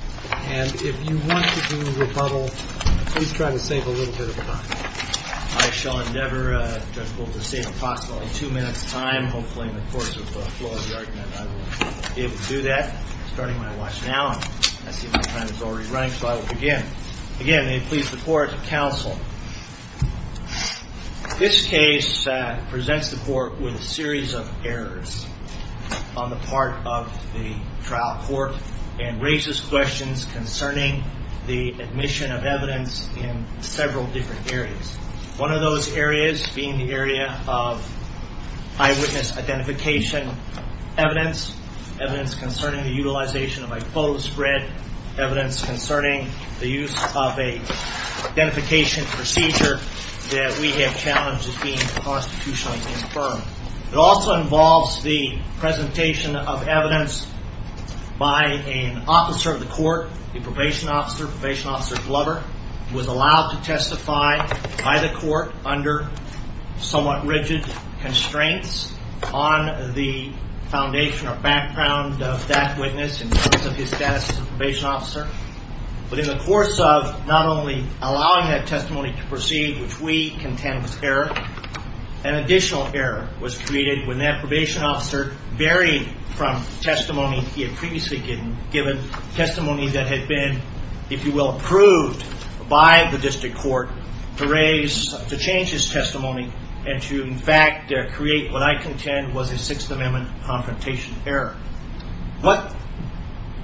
and if you want to do rebuttal, please try to save a little bit of time. I shall endeavor, Judge Wolter, to save possibly two minutes' time. Hopefully, in the course of the flow of the argument, I will be able to do that. I'm starting my watch now. I see my time is already running, so I will begin. Again, may it please the Court, counsel. This case presents the Court with a series of errors on the part of the trial court and raises questions concerning the admission of evidence in several different areas. One of those areas being the area of eyewitness identification evidence, evidence concerning the utilization of a photo spread, evidence concerning the use of an identification procedure that we have challenged as being constitutionally confirmed. It also involves the presentation of evidence by an officer of the Court, a probation officer, probation officer Glover, who was allowed to testify by the Court under somewhat rigid constraints on the foundation or background of that witness in terms of his status as a probation officer. But in the course of not only allowing that testimony to proceed, which we contend was error, an additional error was created when that probation officer varied from testimony he had previously given, testimony that had been, if you will, approved by the district court to change his testimony and to, in fact, create what I contend was a Sixth Amendment confrontation error. What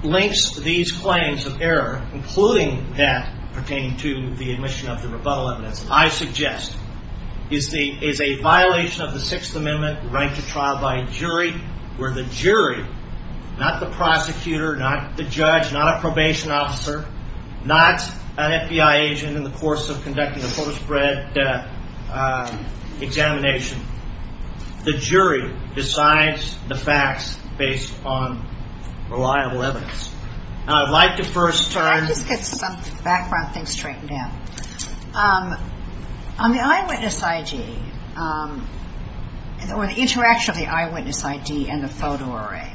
links these claims of error, including that pertaining to the admission of the rebuttal evidence, I suggest is a violation of the Sixth Amendment right to trial by a jury where the jury, not the prosecutor, not the judge, not a probation officer, not an FBI agent in the course of conducting a photo spread examination, the jury decides the facts based upon reliable evidence. I'd like to first turn... I'll just get some background things straightened out. On the eyewitness ID, or the interaction of the eyewitness ID and the photo array,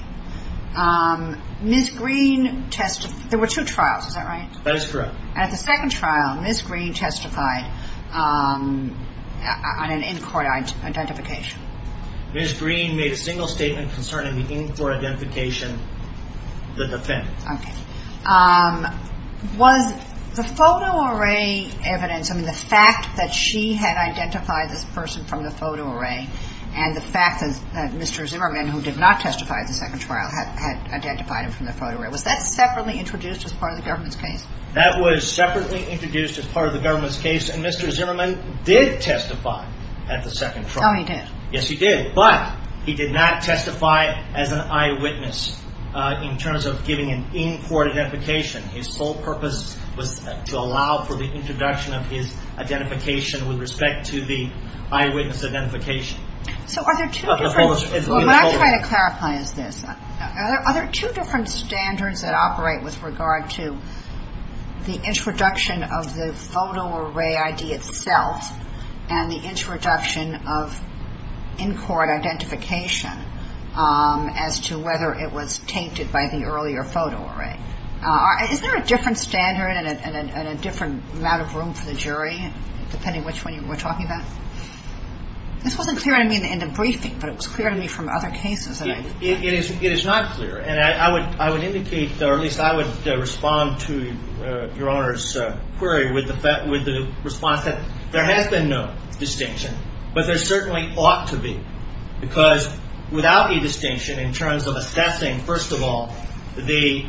Ms. Green testified, there were two trials, is that right? That is correct. And at the second trial, Ms. Green testified on an in-court identification. Ms. Green made a single statement concerning the in-court identification of the defendant. Okay. Was the photo array evidence, I mean, the fact that she had identified this person from the photo array and the fact that Mr. Zimmerman, who did not testify at the second trial, had identified him from the photo array, was that separately introduced as part of the government's case? That was separately introduced as part of the government's case, and Mr. Zimmerman did testify at the second trial. Oh, he did. Yes, he did. But he did not testify as an eyewitness in terms of giving an in-court identification. His sole purpose was to allow for the introduction of his identification with respect to the eyewitness identification. So are there two different... What I'm trying to clarify is this. Are there two different standards that operate with regard to the introduction of the photo array ID itself and the introduction of in-court identification as to whether it was tainted by the earlier photo array? Is there a different standard and a different amount of room for the jury, depending which one you were talking about? This wasn't clear to me in the briefing, but it was clear to me from other cases. It is not clear. And I would indicate, or at least I would respond to your Honor's query with the response that there has been no distinction, but there certainly ought to be. Because without a distinction in terms of assessing, first of all, the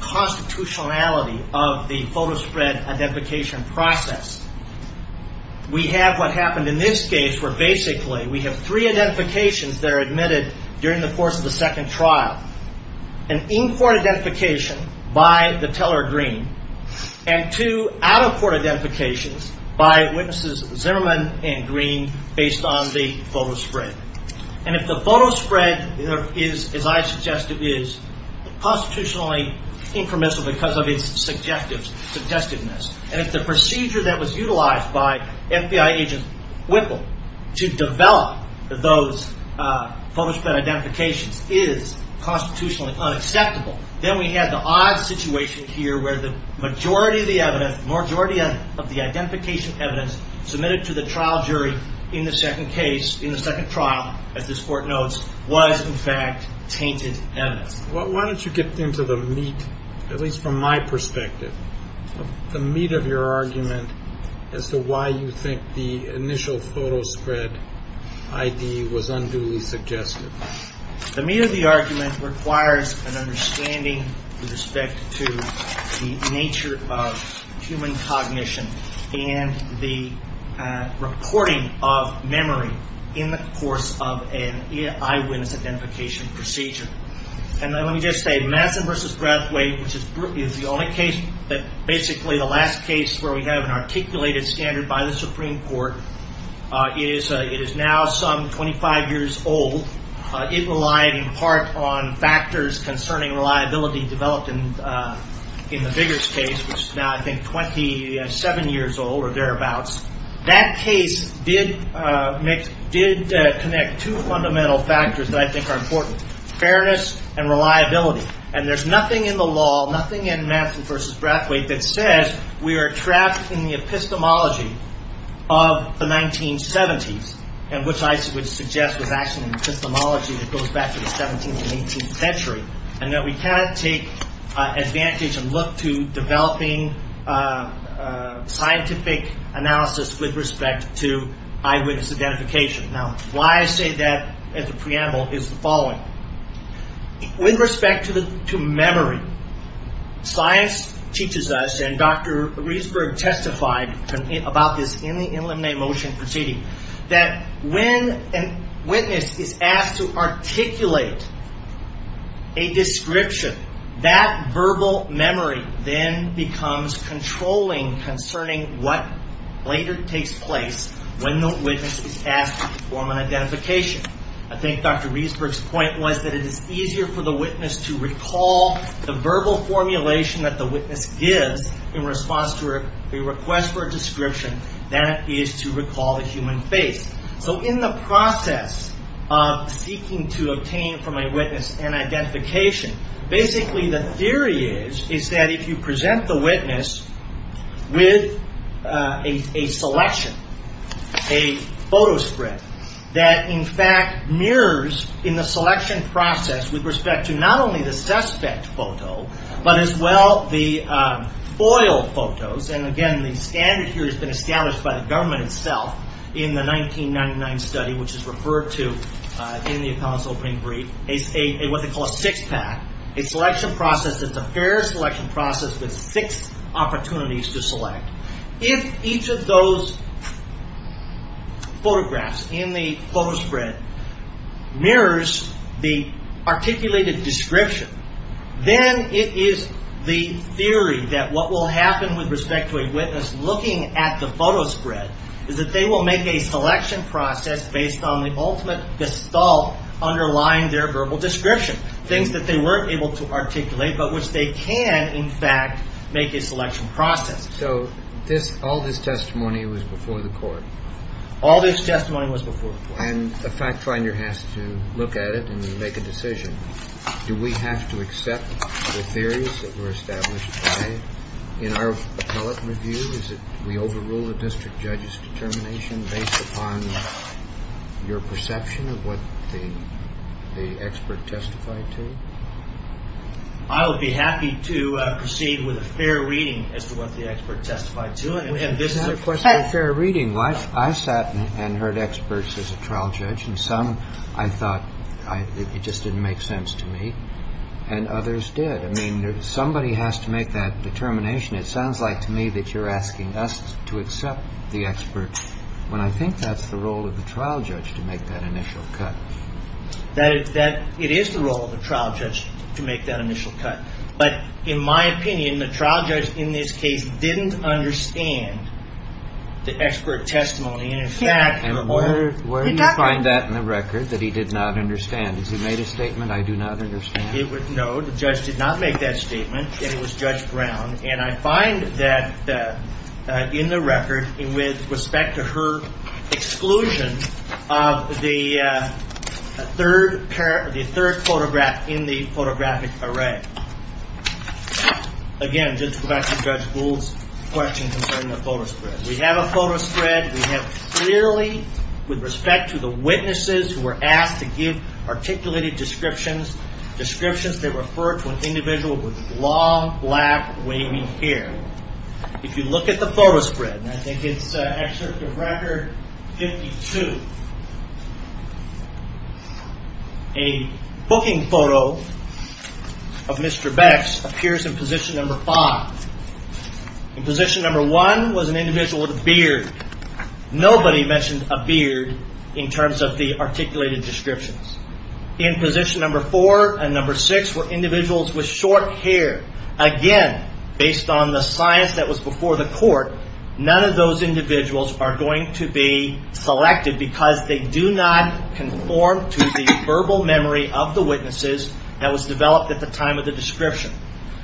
constitutionality of the photo spread identification process, we have what happened in this case where basically we have three identifications that are admitted during the course of the second trial. An in-court identification by the teller, Green, and two out-of-court identifications by witnesses Zimmerman and Green based on the photo spread. And if the photo spread is, as I suggest it is, constitutionally informational because of its suggestiveness, and if the procedure that was utilized by FBI agent Whipple to develop those photo spread identifications is constitutionally unacceptable, then we have the odd situation here where the majority of the evidence, the majority of the identification evidence submitted to the trial jury in the second case, in the second trial, as this Court notes, was in fact tainted evidence. Why don't you get into the meat, at least from my perspective, the meat of your argument as to why you think the initial photo spread ID was unduly suggested. The meat of the argument requires an understanding with respect to the nature of human cognition and the reporting of memory in the course of an eyewitness identification procedure. And let me just say, Madsen v. Brathwaite, which is the only case, basically the last case where we have an articulated standard by the Supreme Court, it is now some 25 years old. It relied in part on factors concerning reliability developed in the Biggers case, which is now I think 27 years old or thereabouts. That case did connect two fundamental factors that I think are important. Fairness and reliability. And there's nothing in the law, nothing in Madsen v. Brathwaite, that says we are trapped in the epistemology of the 1970s, and which I would suggest was actually an epistemology that goes back to the 17th and 18th century, and that we cannot take advantage and look to developing scientific analysis with respect to eyewitness identification. Now, why I say that at the preamble is the following. With respect to memory, science teaches us, and Dr. Riesberg testified about this in the Illuminate Motion proceeding, that when a witness is asked to articulate a description, that verbal memory then becomes controlling concerning what later takes place when the witness is asked to perform an identification. I think Dr. Riesberg's point was that it is easier for the witness to recall the verbal formulation that the witness gives in response to a request for a description than it is to recall the human face. So in the process of seeking to obtain from a witness an identification, basically the theory is that if you present the witness with a selection, a photo script that in fact mirrors in the selection process with respect to not only the suspect photo, but as well the foiled photos, and again, the standard here has been established by the government itself in the 1999 study, which is referred to in the accounts opening brief, what they call a six-pack, a selection process that's a fair selection process with six opportunities to select. If each of those photographs in the photo spread mirrors the articulated description, then it is the theory that what will happen with respect to a witness looking at the photo spread is that they will make a selection process based on the ultimate gestalt underlying their verbal description, things that they weren't able to articulate but which they can, in fact, make a selection process. So all this testimony was before the court? All this testimony was before the court. And the fact finder has to look at it and make a decision. Do we have to accept the theories that were established in our appellate review? Is it we overrule the district judge's determination based upon your perception of what the expert testified to? I would be happy to proceed with a fair reading as to what the expert testified to. And this is a question of fair reading. I sat and heard experts as a trial judge, and some I thought it just didn't make sense to me, and others did. I mean, somebody has to make that determination. It sounds like to me that you're asking us to accept the expert, when I think that's the role of the trial judge to make that initial cut. It is the role of the trial judge to make that initial cut. But in my opinion, the trial judge in this case didn't understand the expert testimony. And, in fact, the court did not. And where do you find that in the record, that he did not understand? Has he made a statement, I do not understand? No, the judge did not make that statement, and it was Judge Brown. And I find that in the record, with respect to her exclusion of the third photograph in the photographic array. Again, just to go back to Judge Gould's question concerning the photo spread. We have a photo spread. We have clearly, with respect to the witnesses who were asked to give articulated descriptions, descriptions that refer to an individual with long, black, wavy hair. If you look at the photo spread, and I think it's Excerpt of Record 52, a booking photo of Mr. Becks appears in position number five. In position number one was an individual with a beard. Nobody mentioned a beard in terms of the articulated descriptions. In position number four and number six were individuals with short hair. Again, based on the science that was before the court, none of those individuals are going to be selected because they do not conform to the verbal memory of the witnesses that was developed at the time of the description.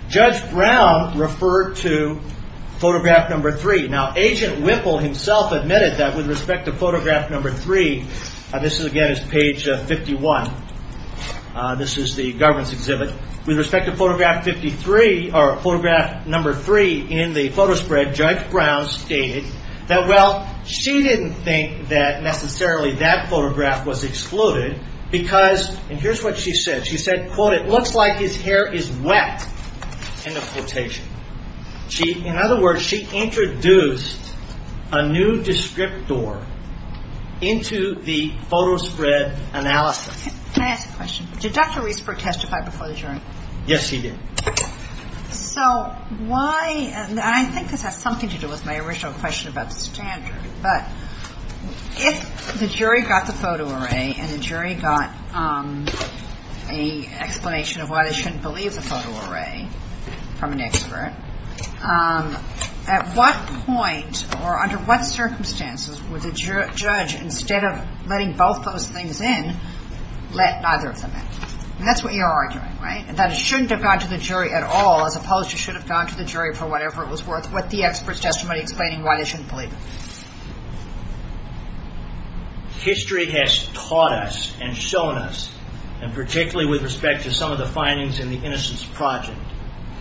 Judge Brown referred to photograph number three. Now, Agent Whipple himself admitted that, with respect to photograph number three, this again is page 51. This is the government's exhibit. With respect to photograph number three in the photo spread, Judge Brown stated that, well, she didn't think that necessarily that photograph was excluded because, and here's what she said, she said, quote, it looks like his hair is wet, end of quotation. In other words, she introduced a new descriptor into the photo spread analysis. Can I ask a question? Did Dr. Riesberg testify before the jury? Yes, she did. So why, and I think this has something to do with my original question about the standard, but if the jury got the photo array and the jury got an explanation of why they shouldn't believe the photo array from an expert, at what point or under what circumstances would the judge, instead of letting both those things in, let neither of them in? And that's what you're arguing, right, that it shouldn't have gone to the jury at all, as opposed to should have gone to the jury for whatever it was worth, what the expert's testimony explaining why they shouldn't believe it. History has taught us and shown us, and particularly with respect to some of the findings in the Innocence Project,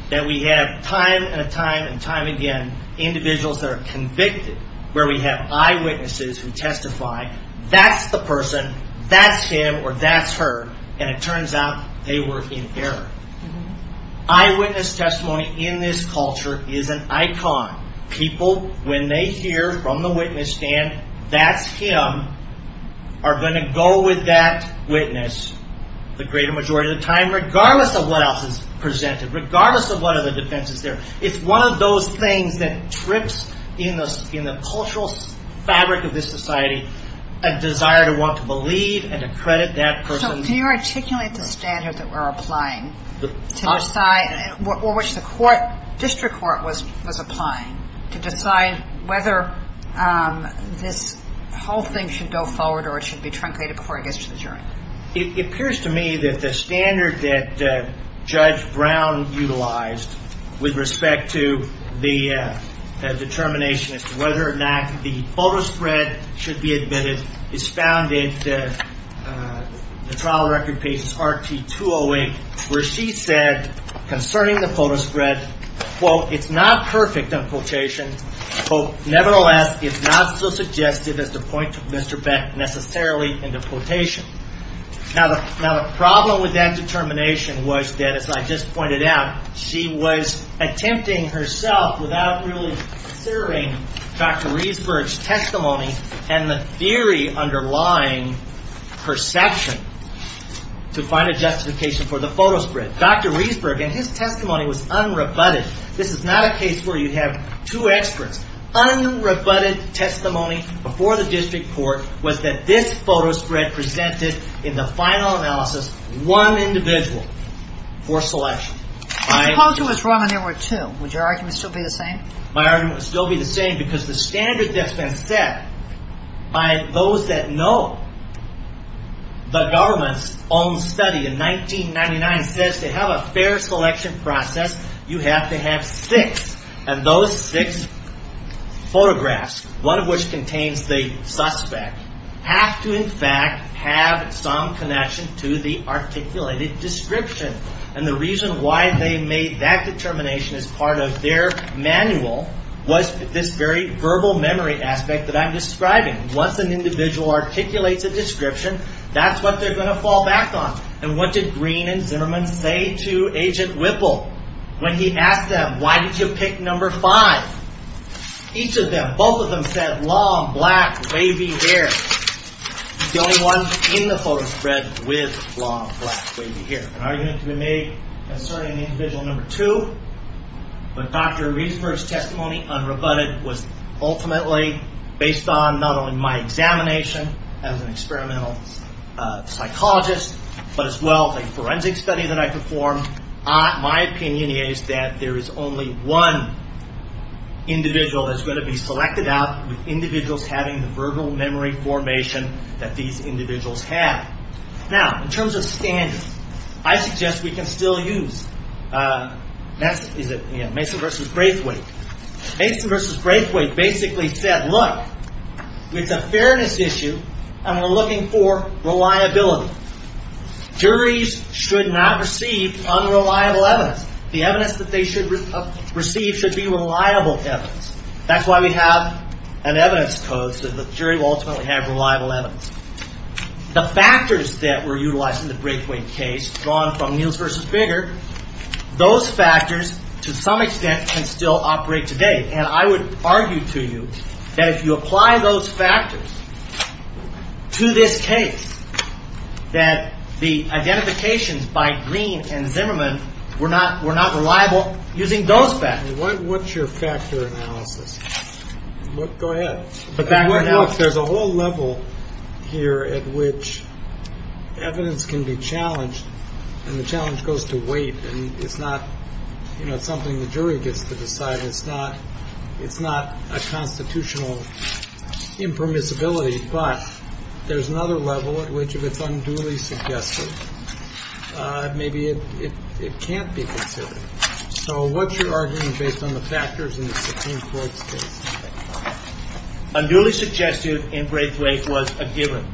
that we have time and time and time again individuals that are convicted, where we have eyewitnesses who testify, that's the person, that's him or that's her, and it turns out they were in error. Eyewitness testimony in this culture is an icon. People, when they hear from the witness stand, that's him, are going to go with that witness the greater majority of the time, regardless of what else is presented, regardless of what other defense is there. It's one of those things that trips in the cultural fabric of this society a desire to want to believe and to credit that person. So can you articulate the standard that we're applying to decide, or which the court, district court was applying, to decide whether this whole thing should go forward or it should be truncated before it gets to the jury? It appears to me that the standard that Judge Brown utilized with respect to the determination as to whether or not the photo spread should be admitted is found in the trial record pages RT-208, where she said concerning the photo spread, quote, it's not perfect, unquote, nevertheless, it's not so suggestive as to point Mr. Beck necessarily into quotation. Now the problem with that determination was that, as I just pointed out, she was attempting herself without really considering Dr. Riesberg's testimony, and the theory underlying perception to find a justification for the photo spread. Dr. Riesberg, in his testimony, was unrebutted. This is not a case where you have two experts. Unrebutted testimony before the district court was that this photo spread presented, in the final analysis, one individual for selection. Suppose it was wrong and there were two. Would your argument still be the same? My argument would still be the same because the standard that's been set by those that know the government's own study in 1999 says to have a fair selection process, you have to have six. And those six photographs, one of which contains the suspect, have to, in fact, have some connection to the articulated description. And the reason why they made that determination as part of their manual was this very verbal memory aspect that I'm describing. Once an individual articulates a description, that's what they're going to fall back on. And what did Green and Zimmerman say to Agent Whipple when he asked them, why did you pick number five? Each of them, both of them said, long, black, wavy hair. He's the only one in the photo spread with long, black, wavy hair. An argument can be made concerning the individual number two. But Dr. Reesburg's testimony, unrebutted, was ultimately based on not only my examination as an experimental psychologist, but as well as a forensic study that I performed. My opinion is that there is only one individual that's going to be selected out, with individuals having the verbal memory formation that these individuals have. Now, in terms of standards, I suggest we can still use Mason v. Graithwaite. Mason v. Graithwaite basically said, look, it's a fairness issue, and we're looking for reliability. Juries should not receive unreliable evidence. The evidence that they should receive should be reliable evidence. That's why we have an evidence code, so the jury will ultimately have reliable evidence. The factors that were utilized in the Graithwaite case, drawn from Niels v. Biggar, those factors, to some extent, can still operate today. And I would argue to you that if you apply those factors to this case, that the identifications by Green and Zimmerman were not reliable using those factors. And what's your factor analysis? Go ahead. There's a whole level here at which evidence can be challenged, and the challenge goes to weight. And it's not something the jury gets to decide. It's not a constitutional impermissibility. But there's another level at which if it's unduly suggestive, maybe it can't be considered. So what's your argument based on the factors in the Supreme Court's case? Unduly suggestive in Graithwaite was a given.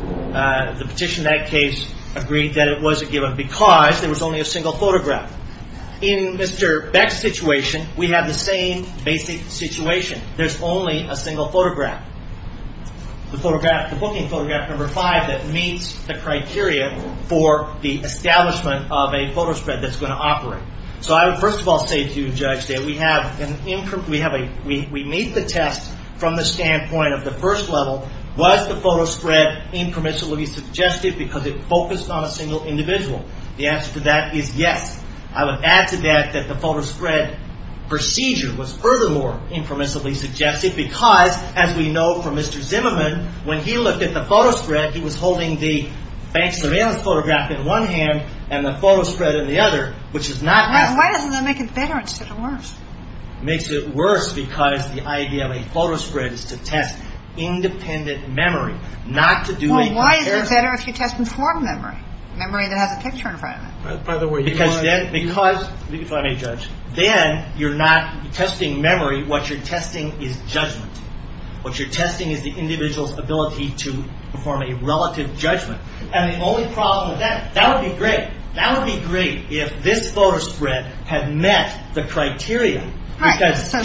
The petition in that case agreed that it was a given because there was only a single photograph. In Mr. Beck's situation, we have the same basic situation. There's only a single photograph. The booking photograph number five that meets the criteria for the establishment of a photo spread that's going to operate. So I would first of all say to you, Judge, that we meet the test from the standpoint of the first level. Was the photo spread impermissibly suggestive because it focused on a single individual? The answer to that is yes. I would add to that that the photo spread procedure was furthermore impermissibly suggestive because, as we know from Mr. Zimmerman, when he looked at the photo spread, he was holding the Banks surveillance photograph in one hand and the photo spread in the other, which is not. Why doesn't that make it better instead of worse? Makes it worse because the idea of a photo spread is to test independent memory, not to do. Why is it better if you test informed memory, memory that has a picture in front of it? Because then you're not testing memory. What you're testing is judgment. What you're testing is the individual's ability to perform a relative judgment. And the only problem with that, that would be great. That would be great if this photo spread had met the criteria. So that's not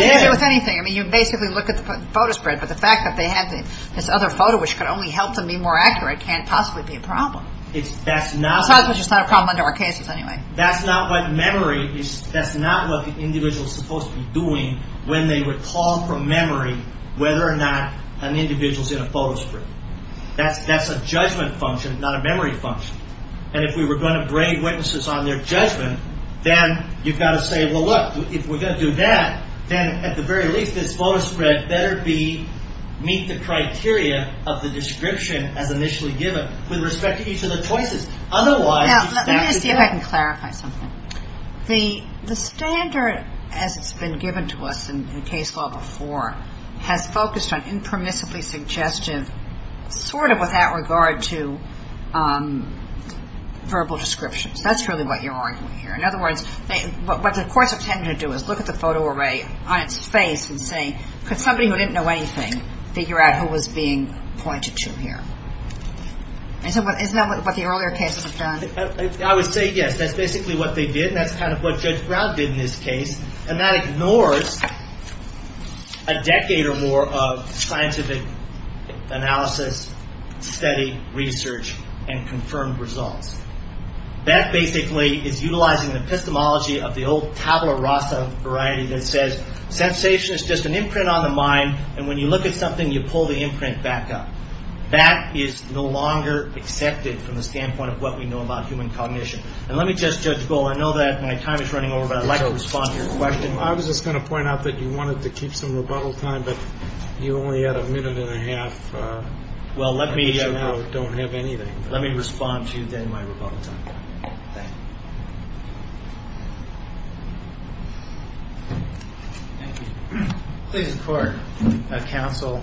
the issue with anything. I mean, you basically look at the photo spread, but the fact that they had this other photo, which could only help them be more accurate, can't possibly be a problem. That's not. Sometimes it's just not a problem under our cases anyway. That's not what memory, that's not what the individual's supposed to be doing when they recall from memory whether or not an individual's in a photo spread. That's a judgment function, not a memory function. And if we were going to grade witnesses on their judgment, then you've got to say, well, look, if we're going to do that, then at the very least this photo spread better be, meet the criteria of the description as initially given with respect to each of the choices. Now, let me see if I can clarify something. The standard, as it's been given to us in case law before, has focused on impermissibly suggestive, sort of without regard to verbal descriptions. That's really what you're arguing here. In other words, what the courts are intending to do is look at the photo array on its face and say, could somebody who didn't know anything figure out who was being pointed to here? Isn't that what the earlier cases have done? I would say yes. That's basically what they did, and that's kind of what Judge Brown did in this case, and that ignores a decade or more of scientific analysis, study, research, and confirmed results. That basically is utilizing the epistemology of the old tabula rasa variety that says, sensation is just an imprint on the mind, and when you look at something, you pull the imprint back up. That is no longer accepted from the standpoint of what we know about human cognition. And let me just, Judge Gold, I know that my time is running over, but I'd like to respond to your question. I was just going to point out that you wanted to keep some rebuttal time, but you only had a minute and a half. Well, let me respond to my rebuttal time. Thank you. Please record, counsel,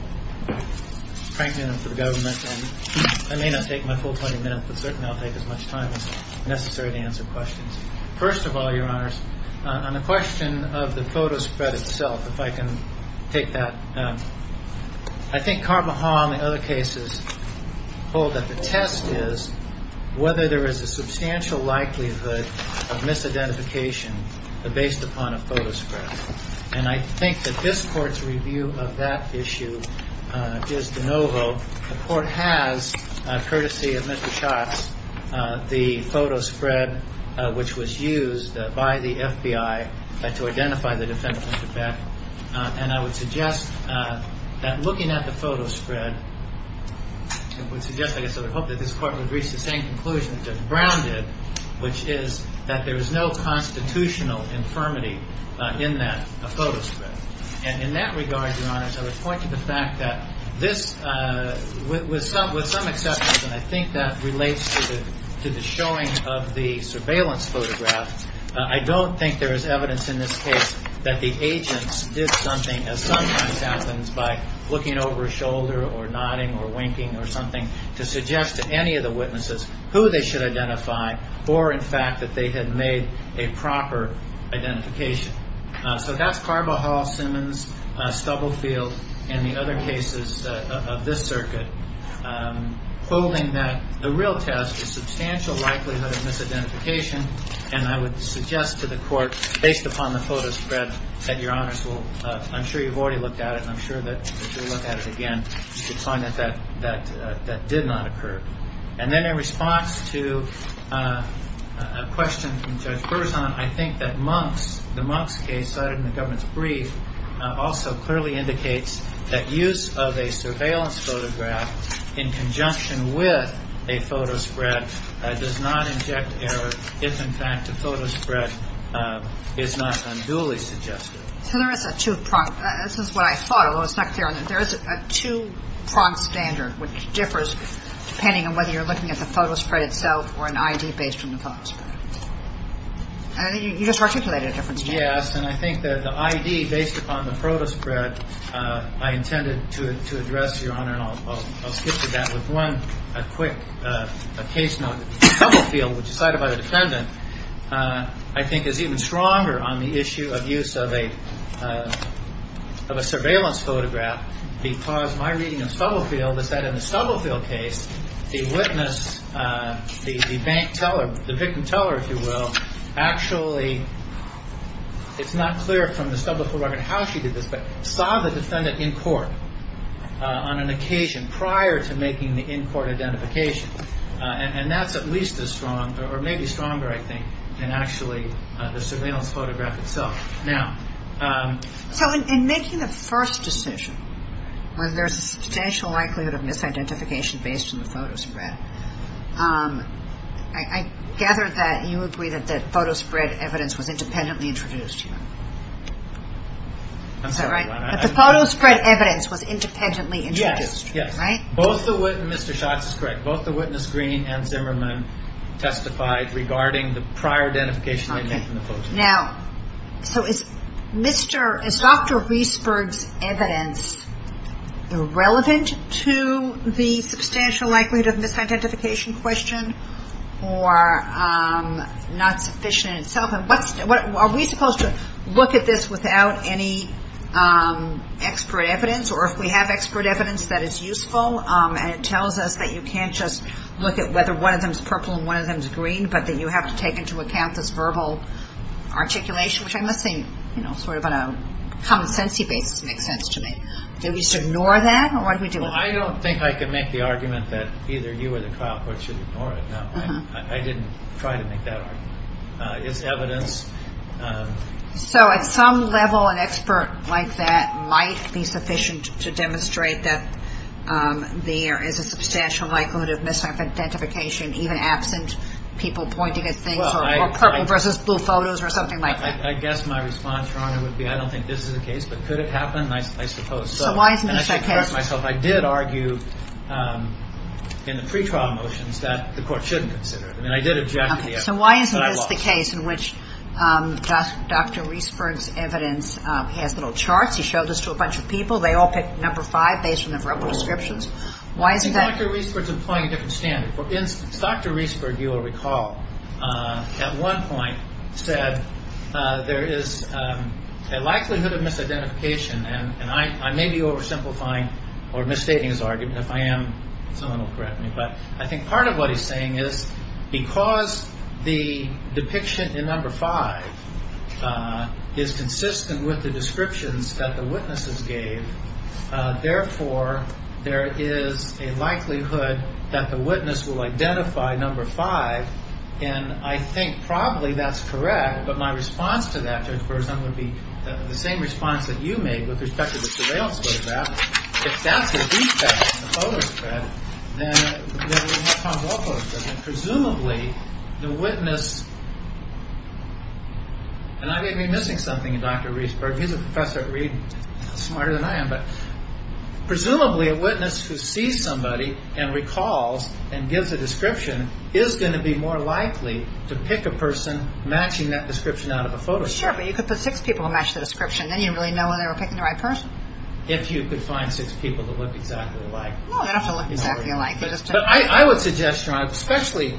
Franklin and for the government. I may not take my full 20 minutes, but certainly I'll take as much time as necessary to answer questions. First of all, Your Honors, on the question of the photo spread itself, if I can take that. I think Carvajal and the other cases hold that the test is whether there is a substantial likelihood of misidentification based upon a photo spread. And I think that this Court's review of that issue is de novo. The Court has, courtesy of Mr. Schatz, the photo spread which was used by the FBI to identify the defendant, Mr. Beck. And I would suggest that looking at the photo spread, I would suggest, I guess I would hope that this Court would reach the same conclusion that Judge Brown did, which is that there is no constitutional infirmity in that photo spread. And in that regard, Your Honors, I would point to the fact that this, with some acceptance, and I think that relates to the showing of the surveillance photograph, I don't think there is evidence in this case that the agents did something, as sometimes happens by looking over a shoulder or nodding or winking or something, to suggest to any of the witnesses who they should identify or, in fact, that they had made a proper identification. So that's Carvajal, Simmons, Stubblefield, and the other cases of this circuit, holding that the real test is substantial likelihood of misidentification. And I would suggest to the Court, based upon the photo spread that Your Honors will, I'm sure you've already looked at it, and I'm sure that if you look at it again, you'll find that that did not occur. And then in response to a question from Judge Berzon, I think that Monk's, the Monk's case cited in the government's brief, also clearly indicates that use of a surveillance photograph in conjunction with a photo spread does not inject error, if, in fact, the photo spread is not unduly suggested. So there is a two-pronged – this is what I thought, although it's not clear. There is a two-pronged standard which differs depending on whether you're looking at the photo spread itself or an I.D. based on the photo spread. I think you just articulated a difference, Judge. Yes, and I think that the I.D. based upon the photo spread I intended to address, Your Honor, and I'll skip to that with one quick case note. Stubblefield, which is cited by the defendant, I think is even stronger on the issue of use of a surveillance photograph because my reading of Stubblefield is that in the Stubblefield case, the witness, the bank teller, the victim teller, if you will, actually – it's not clear from the Stubblefield record how she did this, but saw the defendant in court on an occasion prior to making the in-court identification. And that's at least as strong or maybe stronger, I think, than actually the surveillance photograph itself. Now – So in making the first decision, when there's a substantial likelihood of misidentification based on the photo spread, I gather that you agree that the photo spread evidence was independently introduced here. I'm sorry, Your Honor. But the photo spread evidence was independently introduced, right? Yes, yes. Both the – Mr. Schatz is correct. Both the witness, Green, and Zimmerman testified regarding the prior identification they made from the photo. Okay. Now, so is Mr. – is Dr. Reisberg's evidence relevant to the substantial likelihood of misidentification question or not sufficient in itself? Are we supposed to look at this without any expert evidence, or if we have expert evidence that is useful and it tells us that you can't just look at whether one of them is purple and one of them is green, but that you have to take into account this verbal articulation, which I must say, you know, sort of on a commonsensy basis makes sense to me. Do we just ignore that, or what do we do? Well, I don't think I can make the argument that either you or the trial court should ignore it. No, I didn't try to make that argument. Is evidence – So at some level, an expert like that might be sufficient to demonstrate that there is a substantial likelihood of misidentification even absent people pointing at things or purple versus blue photos or something like that. I guess my response, Your Honor, would be I don't think this is the case, but could it happen? I suppose so. So why isn't this the case? And I should correct myself. I did argue in the pretrial motions that the court shouldn't consider it. I mean, I did object to the evidence, but I lost. So why isn't this the case in which Dr. Reesburg's evidence has little charts? He showed this to a bunch of people. They all picked number five based on their verbal descriptions. Well, I think Dr. Reesburg's employing a different standard. Dr. Reesburg, you will recall, at one point said there is a likelihood of misidentification, and I may be oversimplifying or misstating his argument. If I am, someone will correct me. But I think part of what he's saying is because the depiction in number five is consistent with the descriptions that the witnesses gave, therefore, there is a likelihood that the witness will identify number five, and I think probably that's correct, but my response to that, Judge Burson, would be the same response that you made with respect to the surveillance photograph. If that's a defect in the photo spread, then what comes off of it? Presumably, the witness, and I may be missing something in Dr. Reesburg. He's a professor at Reed, smarter than I am, but presumably a witness who sees somebody and recalls and gives a description is going to be more likely to pick a person matching that description out of a photo spread. Sure, but you could put six people to match the description. Then you'd really know whether they were picking the right person. If you could find six people that looked exactly alike. No, they don't have to look exactly alike. But I would suggest, especially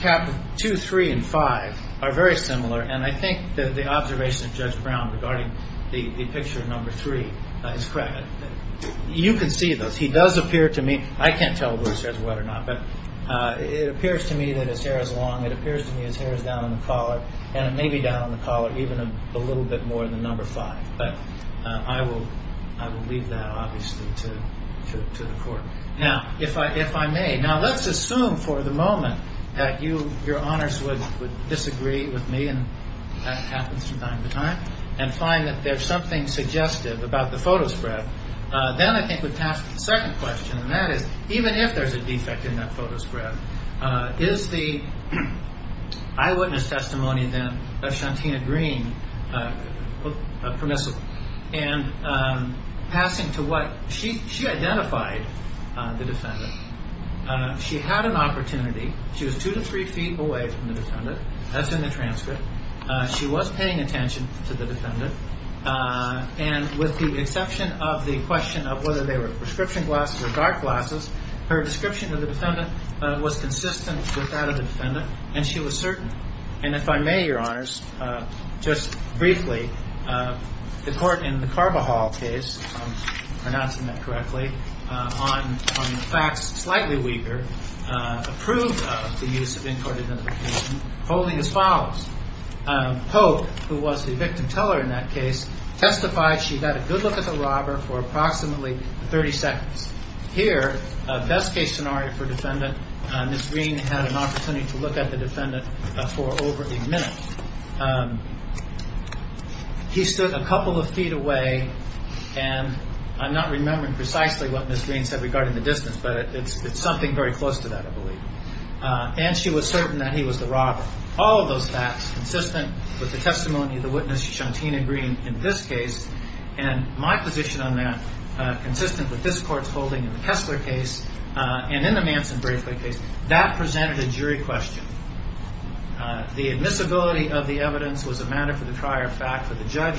cap two, three, and five are very similar, and I think that the observation of Judge Brown regarding the picture of number three is correct. You can see that he does appear to me, I can't tell whether he says what or not, but it appears to me that his hair is long. It appears to me his hair is down on the collar, and it may be down on the collar even a little bit more than number five. But I will leave that, obviously, to the court. Now, if I may, now let's assume for the moment that your honors would disagree with me, and that happens from time to time, and find that there's something suggestive about the photo spread. Then I think we'd pass to the second question, and that is even if there's a defect in that photo spread, is the eyewitness testimony then of Shantina Green permissible? And passing to what? She identified the defendant. She had an opportunity. She was two to three feet away from the defendant. That's in the transcript. She was paying attention to the defendant, and with the exception of the question of whether they were prescription glasses or dark glasses, her description of the defendant was consistent with that of the defendant, and she was certain. And if I may, your honors, just briefly, the court in the Carbajal case, if I'm pronouncing that correctly, on the facts slightly weaker, approved of the use of in-court identification holding as follows. Pope, who was the victim teller in that case, testified she'd had a good look at the robber for approximately 30 seconds. Here, best-case scenario for defendant, Ms. Green had an opportunity to look at the defendant for over a minute. He stood a couple of feet away, and I'm not remembering precisely what Ms. Green said regarding the distance, but it's something very close to that, I believe. And she was certain that he was the robber. All of those facts consistent with the testimony of the witness, Shantina Green, in this case, and my position on that, consistent with this court's holding in the Kessler case and in the Manson briefly case, that presented a jury question. The admissibility of the evidence was a matter for the prior fact for the judge,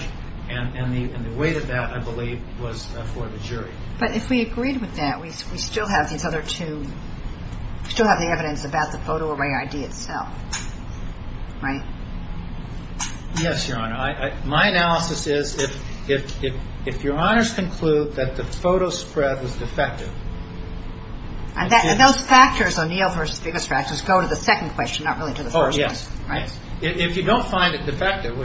and the weight of that, I believe, was for the jury. But if we agreed with that, we still have these other two. We still have the evidence about the photo array ID itself, right? Yes, your honor. My analysis is if your honors conclude that the photo spread was defective. And those factors, O'Neill v. Biggest Factors, go to the second question, not really to the first one. Oh, yes. Right? If you don't find it defective,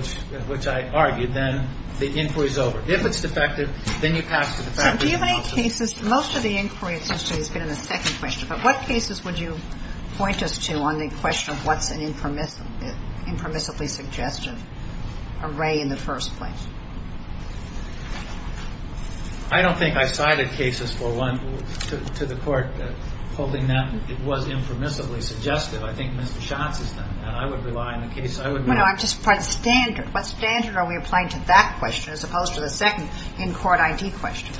which I argued, then the inquiry is over. If it's defective, then you pass to the faculty. Do you have any cases, most of the inquiry it seems to me has been in the second question, but what cases would you point us to on the question of what's an impermissibly suggested array in the first place? I don't think I cited cases for one to the court holding that it was impermissibly suggested. I think Mr. Schatz has done that. I would rely on the case. I would rely on the case. No, no. I'm just part of the standard. What standard are we applying to that question as opposed to the second in-court ID question?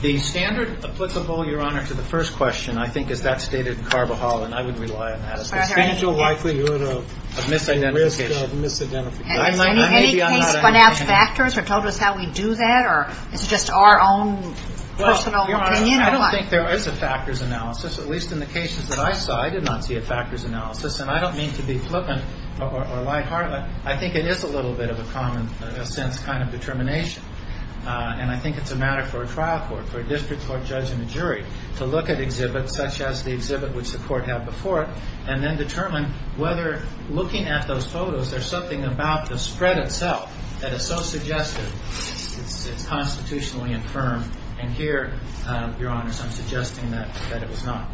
The standard applicable, your honor, to the first question I think is that stated in Carvajal, and I would rely on that. I don't think there is a factors analysis, at least in the cases that I saw. I did not see a factors analysis, and I don't mean to be flippant or light-hearted. I think it is a little bit of a common sense kind of determination, and I think it's a matter for a trial court, for a district court judge and a jury, to look at exhibits such as the exhibit which the court had before it, and then determine whether looking at those photos, there's something about the spread itself that is so suggestive, it's constitutionally infirm. And here, your honor, I'm suggesting that it was not.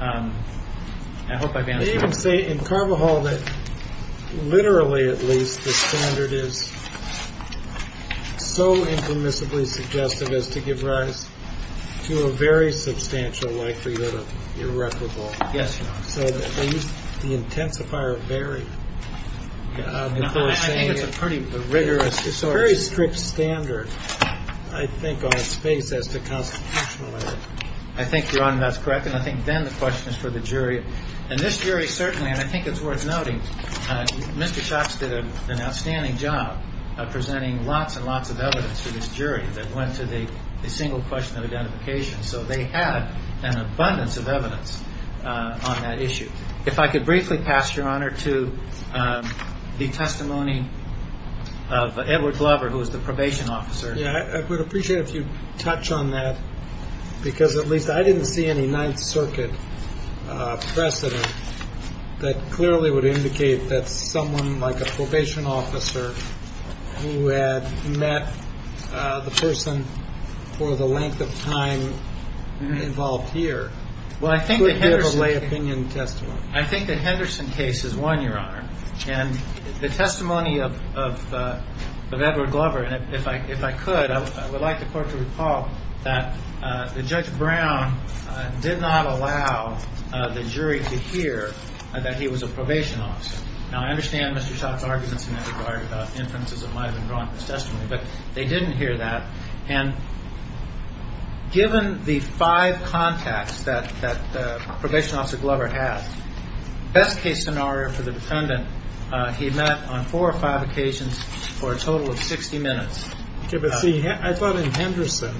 I hope I've answered your question. They even say in Carvajal that literally at least the standard is so impermissibly suggestive as to give rise to a very substantial likelihood of irreparable. Yes, your honor. So they used the intensifier of Barry. I think it's a pretty rigorous. It's a very strict standard, I think, on its face as to constitutionality. I think, your honor, that's correct. And I think then the question is for the jury. And this jury certainly, and I think it's worth noting, Mr. Schatz did an outstanding job of presenting lots and lots of evidence to this jury that went to the single question of identification. So they had an abundance of evidence on that issue. If I could briefly pass, your honor, to the testimony of Edward Glover, who was the probation officer. Yeah, I would appreciate if you'd touch on that, because at least I didn't see any Ninth Circuit precedent that clearly would indicate that someone like a probation officer who had met the person for the length of time involved here could give a lay opinion testimony. I think the Henderson case is one, your honor. And the testimony of Edward Glover, and if I could, I would like the court to recall that Judge Brown did not allow the jury to hear that he was a probation officer. Now, I understand Mr. Schatz' arguments in that regard about inferences that might have been drawn in his testimony, but they didn't hear that. And given the five contacts that probation officer Glover had, best case scenario for the defendant, he met on four or five occasions for a total of 60 minutes. Okay, but see, I thought in Henderson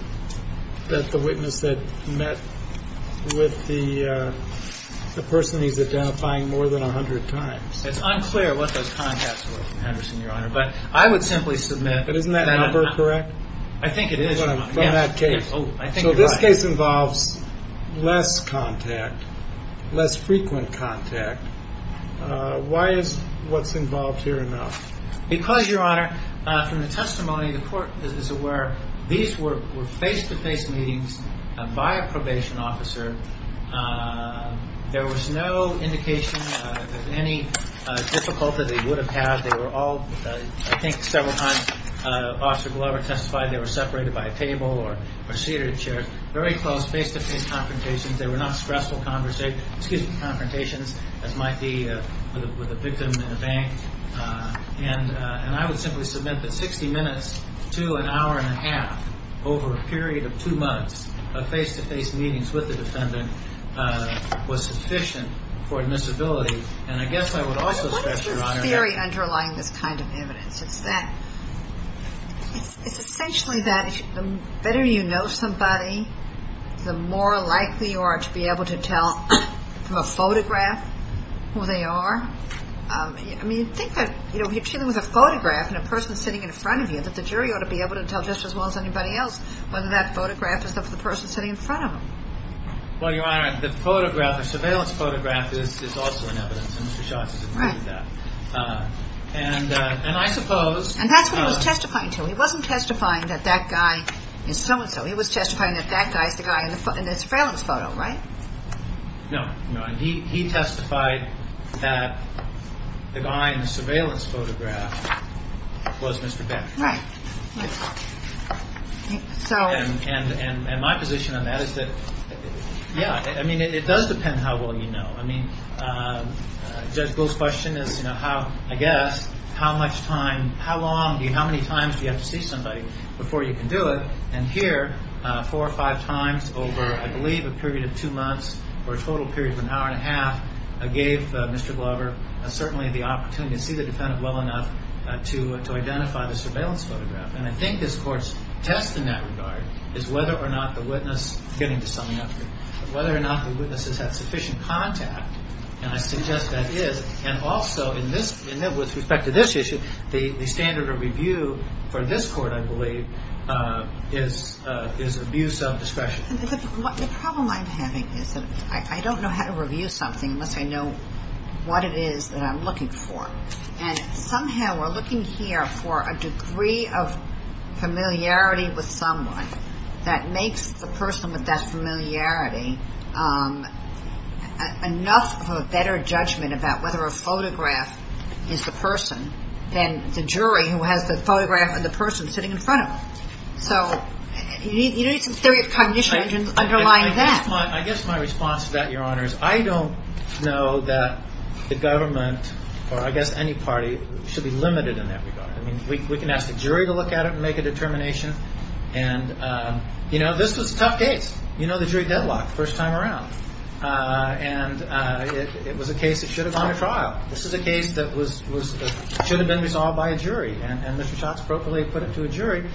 that the witness had met with the person he's identifying more than 100 times. It's unclear what those contacts were from Henderson, your honor. But I would simply submit that I'm not. But isn't that number correct? I think it is. From that case. So this case involves less contact, less frequent contact. Why is what's involved here enough? Because, your honor, from the testimony, the court is aware these were face-to-face meetings by a probation officer. There was no indication of any difficulty they would have had. They were all, I think, several times Officer Glover testified they were separated by a table or seated in chairs. Very close face-to-face confrontations. They were not stressful confrontations as might be with a victim in a bank. And I would simply submit that 60 minutes to an hour and a half over a period of two months of face-to-face meetings with the defendant was sufficient for admissibility. And I guess I would also stress, your honor, that What is this theory underlying this kind of evidence? It's that it's essentially that the better you know somebody, the more likely you are to be able to tell from a photograph who they are. I mean, think that, you know, if you're dealing with a photograph and a person is sitting in front of you, that the jury ought to be able to tell just as well as anybody else whether that photograph is of the person sitting in front of them. Well, your honor, the photograph, the surveillance photograph is also an evidence, and Mr. Schatz has included that. Right. And I suppose And that's what he was testifying to. He wasn't testifying that that guy is so-and-so. He was testifying that that guy is the guy in the surveillance photo, right? No, no. He testified that the guy in the surveillance photograph was Mr. Beck. Right. And my position on that is that, yeah, I mean, it does depend how well you know. I mean, Judge Gould's question is, you know, how, I guess, how much time, how long, how many times do you have to see somebody before you can do it? And here, four or five times over, I believe, a period of two months, or a total period of an hour and a half, gave Mr. Glover certainly the opportunity to see the defendant well enough to identify the surveillance photograph. And I think this Court's test in that regard is whether or not the witness, getting to summing up here, whether or not the witness has had sufficient contact. And I suggest that is. And also, with respect to this issue, the standard of review for this Court, I believe, is abuse of discretion. The problem I'm having is that I don't know how to review something unless I know what it is that I'm looking for. And somehow we're looking here for a degree of familiarity with someone that makes the person with that familiarity enough of a better judgment about whether a photograph is the person than the jury who has the photograph of the person sitting in front of them. So you need some theory of cognition underlying that. I guess my response to that, Your Honor, is I don't know that the government, or I guess any party, should be limited in that regard. I mean, we can ask the jury to look at it and make a determination. And, you know, this was a tough case. You know the jury deadlocked the first time around. And it was a case that should have gone to trial. This is a case that should have been resolved by a jury. And Mr. Schatz appropriately put it to a jury.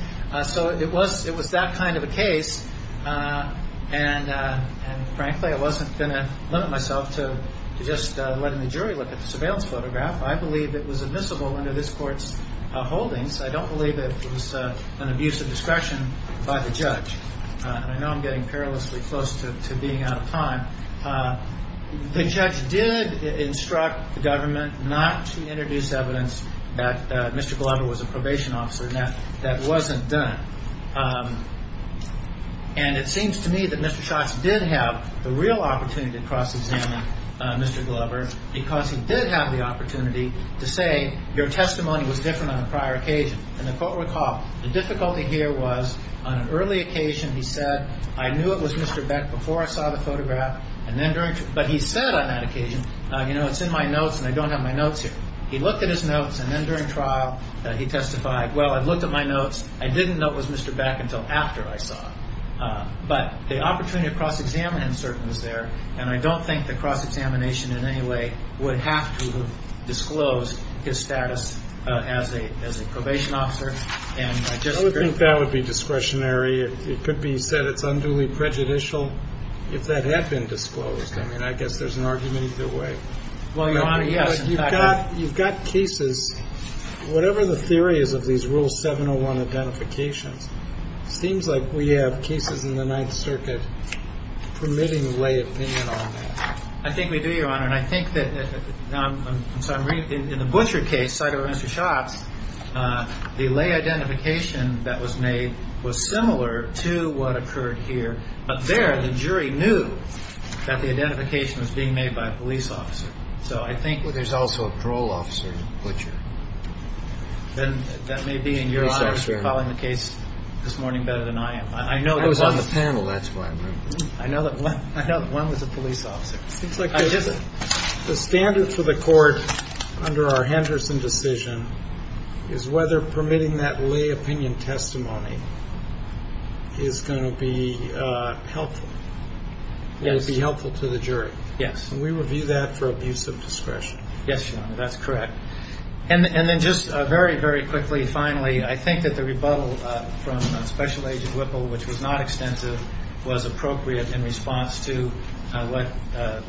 So it was that kind of a case. And, frankly, I wasn't going to limit myself to just letting the jury look at the surveillance photograph. I believe it was admissible under this Court's holdings. I don't believe it was an abuse of discretion by the judge. And I know I'm getting perilously close to being out of time. The judge did instruct the government not to introduce evidence that Mr. Glover was a probation officer. And that wasn't done. And it seems to me that Mr. Schatz did have the real opportunity to cross-examine Mr. Glover because he did have the opportunity to say your testimony was different on a prior occasion. And the Court recalled the difficulty here was on an early occasion he said, I knew it was Mr. Beck before I saw the photograph. But he said on that occasion, you know, it's in my notes and I don't have my notes here. He looked at his notes and then during trial he testified, well, I looked at my notes. I didn't know it was Mr. Beck until after I saw it. But the opportunity to cross-examine him certainly was there. And I don't think the cross-examination in any way would have to disclose his status as a probation officer. And I just agree. I would think that would be discretionary. It could be said it's unduly prejudicial if that had been disclosed. I mean, I guess there's an argument either way. Well, Your Honor, yes. You've got cases, whatever the theory is of these Rule 701 identifications, it seems like we have cases in the Ninth Circuit permitting lay opinion on that. I think we do, Your Honor. And I think that in the Butcher case, side of Mr. Schatz, the lay identification that was made was similar to what occurred here. But there the jury knew that the identification was being made by a police officer. So I think there's also a parole officer in Butcher. Then that may be in your eyes. You're following the case this morning better than I am. I was on the panel. That's why I remember. I know that one was a police officer. It seems like the standard for the court under our Henderson decision is whether permitting that lay opinion testimony is going to be helpful. Yes. It would be helpful to the jury. Yes. And we review that for abuse of discretion. Yes, Your Honor. That's correct. And then just very, very quickly, finally, I think that the rebuttal from Special Agent Whipple, which was not extensive, was appropriate in response to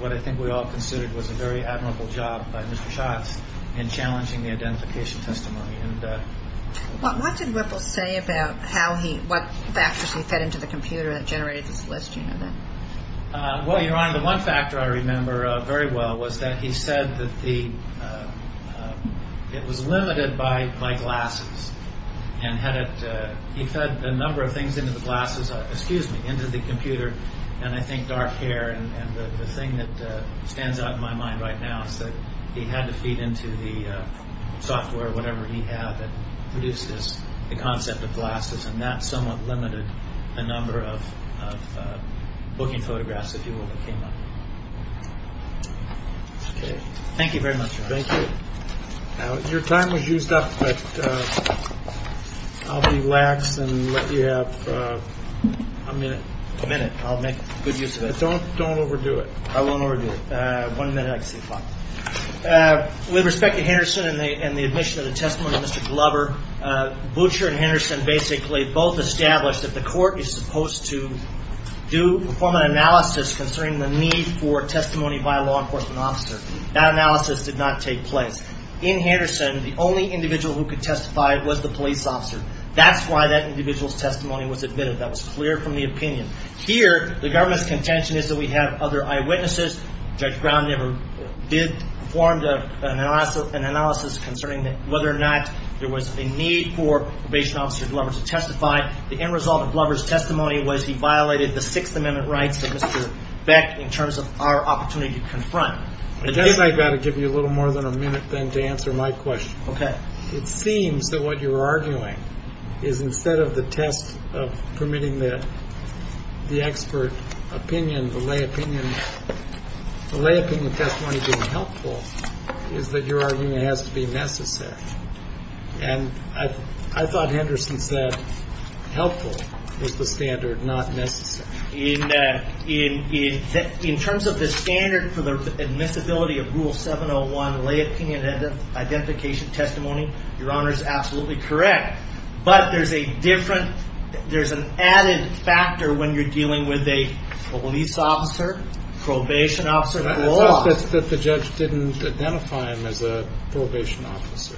what I think we all considered was a very admirable job by Mr. Schatz in challenging the identification testimony. What did Whipple say about what factors he fed into the computer that generated this list? Well, Your Honor, the one factor I remember very well was that he said that it was limited by my glasses. And he fed a number of things into the glasses, excuse me, into the computer. And I think dark hair and the thing that stands out in my mind right now is that he had to feed into the software, whatever he had that produced this, the concept of glasses. And that somewhat limited the number of booking photographs, if you will, that came up. Okay. Thank you very much, Your Honor. Thank you. Your time was used up, but I'll be lax and let you have a minute. A minute. I'll make good use of it. Don't overdo it. I won't overdo it. One minute, I can see fine. With respect to Henderson and the admission of the testimony of Mr. Glover, Butcher and Henderson basically both established that the court is supposed to do, perform an analysis concerning the need for testimony by a law enforcement officer. That analysis did not take place. In Henderson, the only individual who could testify was the police officer. That's why that individual's testimony was admitted. That was clear from the opinion. Here, the government's contention is that we have other eyewitnesses. Judge Brown never did perform an analysis concerning whether or not there was a need for probation officer Glover to testify. The end result of Glover's testimony was he violated the Sixth Amendment rights of Mr. Beck in terms of our opportunity to confront. I guess I've got to give you a little more than a minute then to answer my question. Okay. It seems that what you're arguing is instead of the test of permitting the expert opinion, the lay opinion testimony being helpful is that your argument has to be necessary. And I thought Henderson said helpful was the standard, not necessary. In terms of the standard for the admissibility of Rule 701, lay opinion identification testimony, Your Honor is absolutely correct. But there's a different, there's an added factor when you're dealing with a police officer, probation officer. It says that the judge didn't identify him as a probation officer.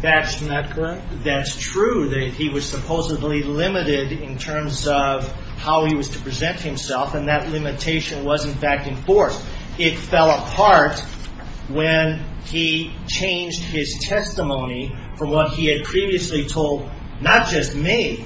That's not correct. That's true, that he was supposedly limited in terms of how he was to present himself, and that limitation was in fact enforced. It fell apart when he changed his testimony from what he had previously told not just me,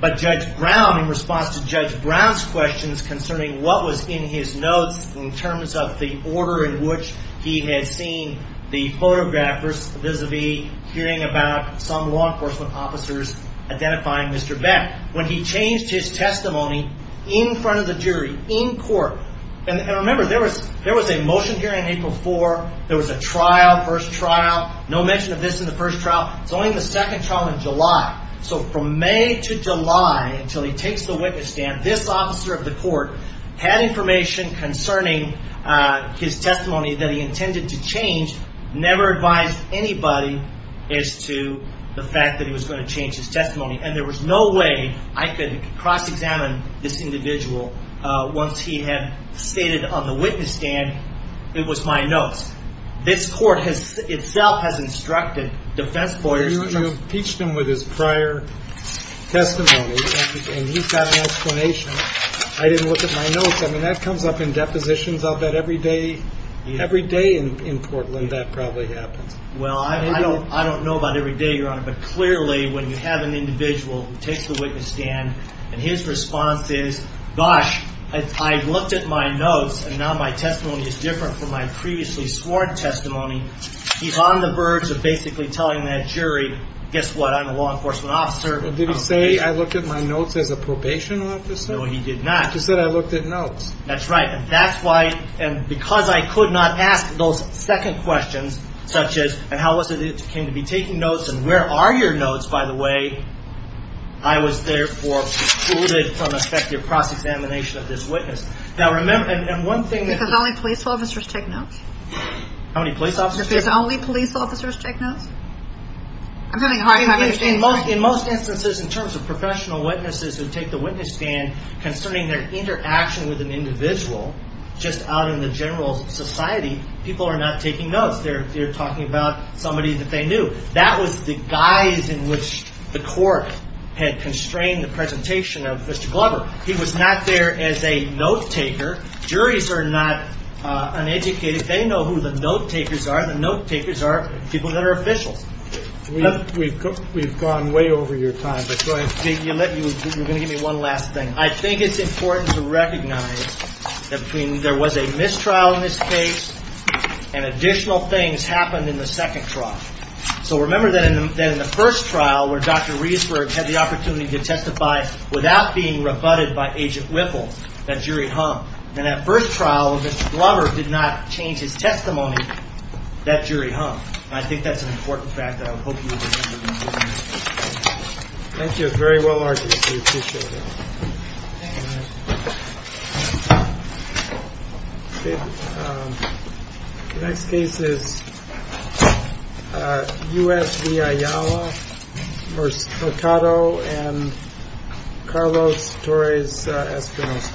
but Judge Brown in response to Judge Brown's questions concerning what was in his notes in terms of the order in which he had seen the photographers vis-a-vis hearing about some law enforcement officers identifying Mr. Beck. When he changed his testimony in front of the jury, in court, and remember there was a motion hearing April 4, there was a trial, first trial, no mention of this in the first trial. It's only in the second trial in July. So from May to July until he takes the witness stand, this officer of the court had information concerning his testimony that he intended to change, never advised anybody as to the fact that he was going to change his testimony. And there was no way I could cross-examine this individual once he had stated on the witness stand it was my notes. This court itself has instructed defense lawyers to- You impeached him with his prior testimony, and he's got an explanation. I didn't look at my notes. I mean, that comes up in depositions. I'll bet every day in Portland that probably happens. Well, I don't know about every day, Your Honor, but clearly when you have an individual who takes the witness stand, and his response is, gosh, I looked at my notes, and now my testimony is different from my previously sworn testimony, he's on the verge of basically telling that jury, guess what, I'm a law enforcement officer. Did he say I looked at my notes as a probation officer? No, he did not. He said I looked at notes. That's right, and that's why, and because I could not ask those second questions, such as, and how was it that you came to be taking notes, and where are your notes, by the way, I was therefore excluded from effective cross-examination of this witness. Now, remember, and one thing- Because only police officers take notes? How many police officers- Because only police officers take notes? I'm having a hard time understanding- In most instances, in terms of professional witnesses who take the witness stand, concerning their interaction with an individual, just out in the general society, people are not taking notes. They're talking about somebody that they knew. That was the guise in which the court had constrained the presentation of Mr. Glover. He was not there as a note-taker. Juries are not uneducated. They know who the note-takers are. The note-takers are people that are officials. We've gone way over your time, but go ahead. You're going to give me one last thing. I think it's important to recognize that there was a mistrial in this case, and additional things happened in the second trial. So remember that in the first trial, where Dr. Riesberg had the opportunity to testify without being rebutted by Agent Whipple, that jury hung. And that first trial, when Mr. Glover did not change his testimony, that jury hung. I think that's an important fact, and I hope you appreciate it. Thank you. It's very well argued. We appreciate it. The next case is U.S. v. Ayala v. Mercado v. Carlos Torres Espinosa.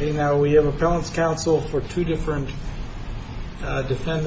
We have appellant's counsel for two different defendants.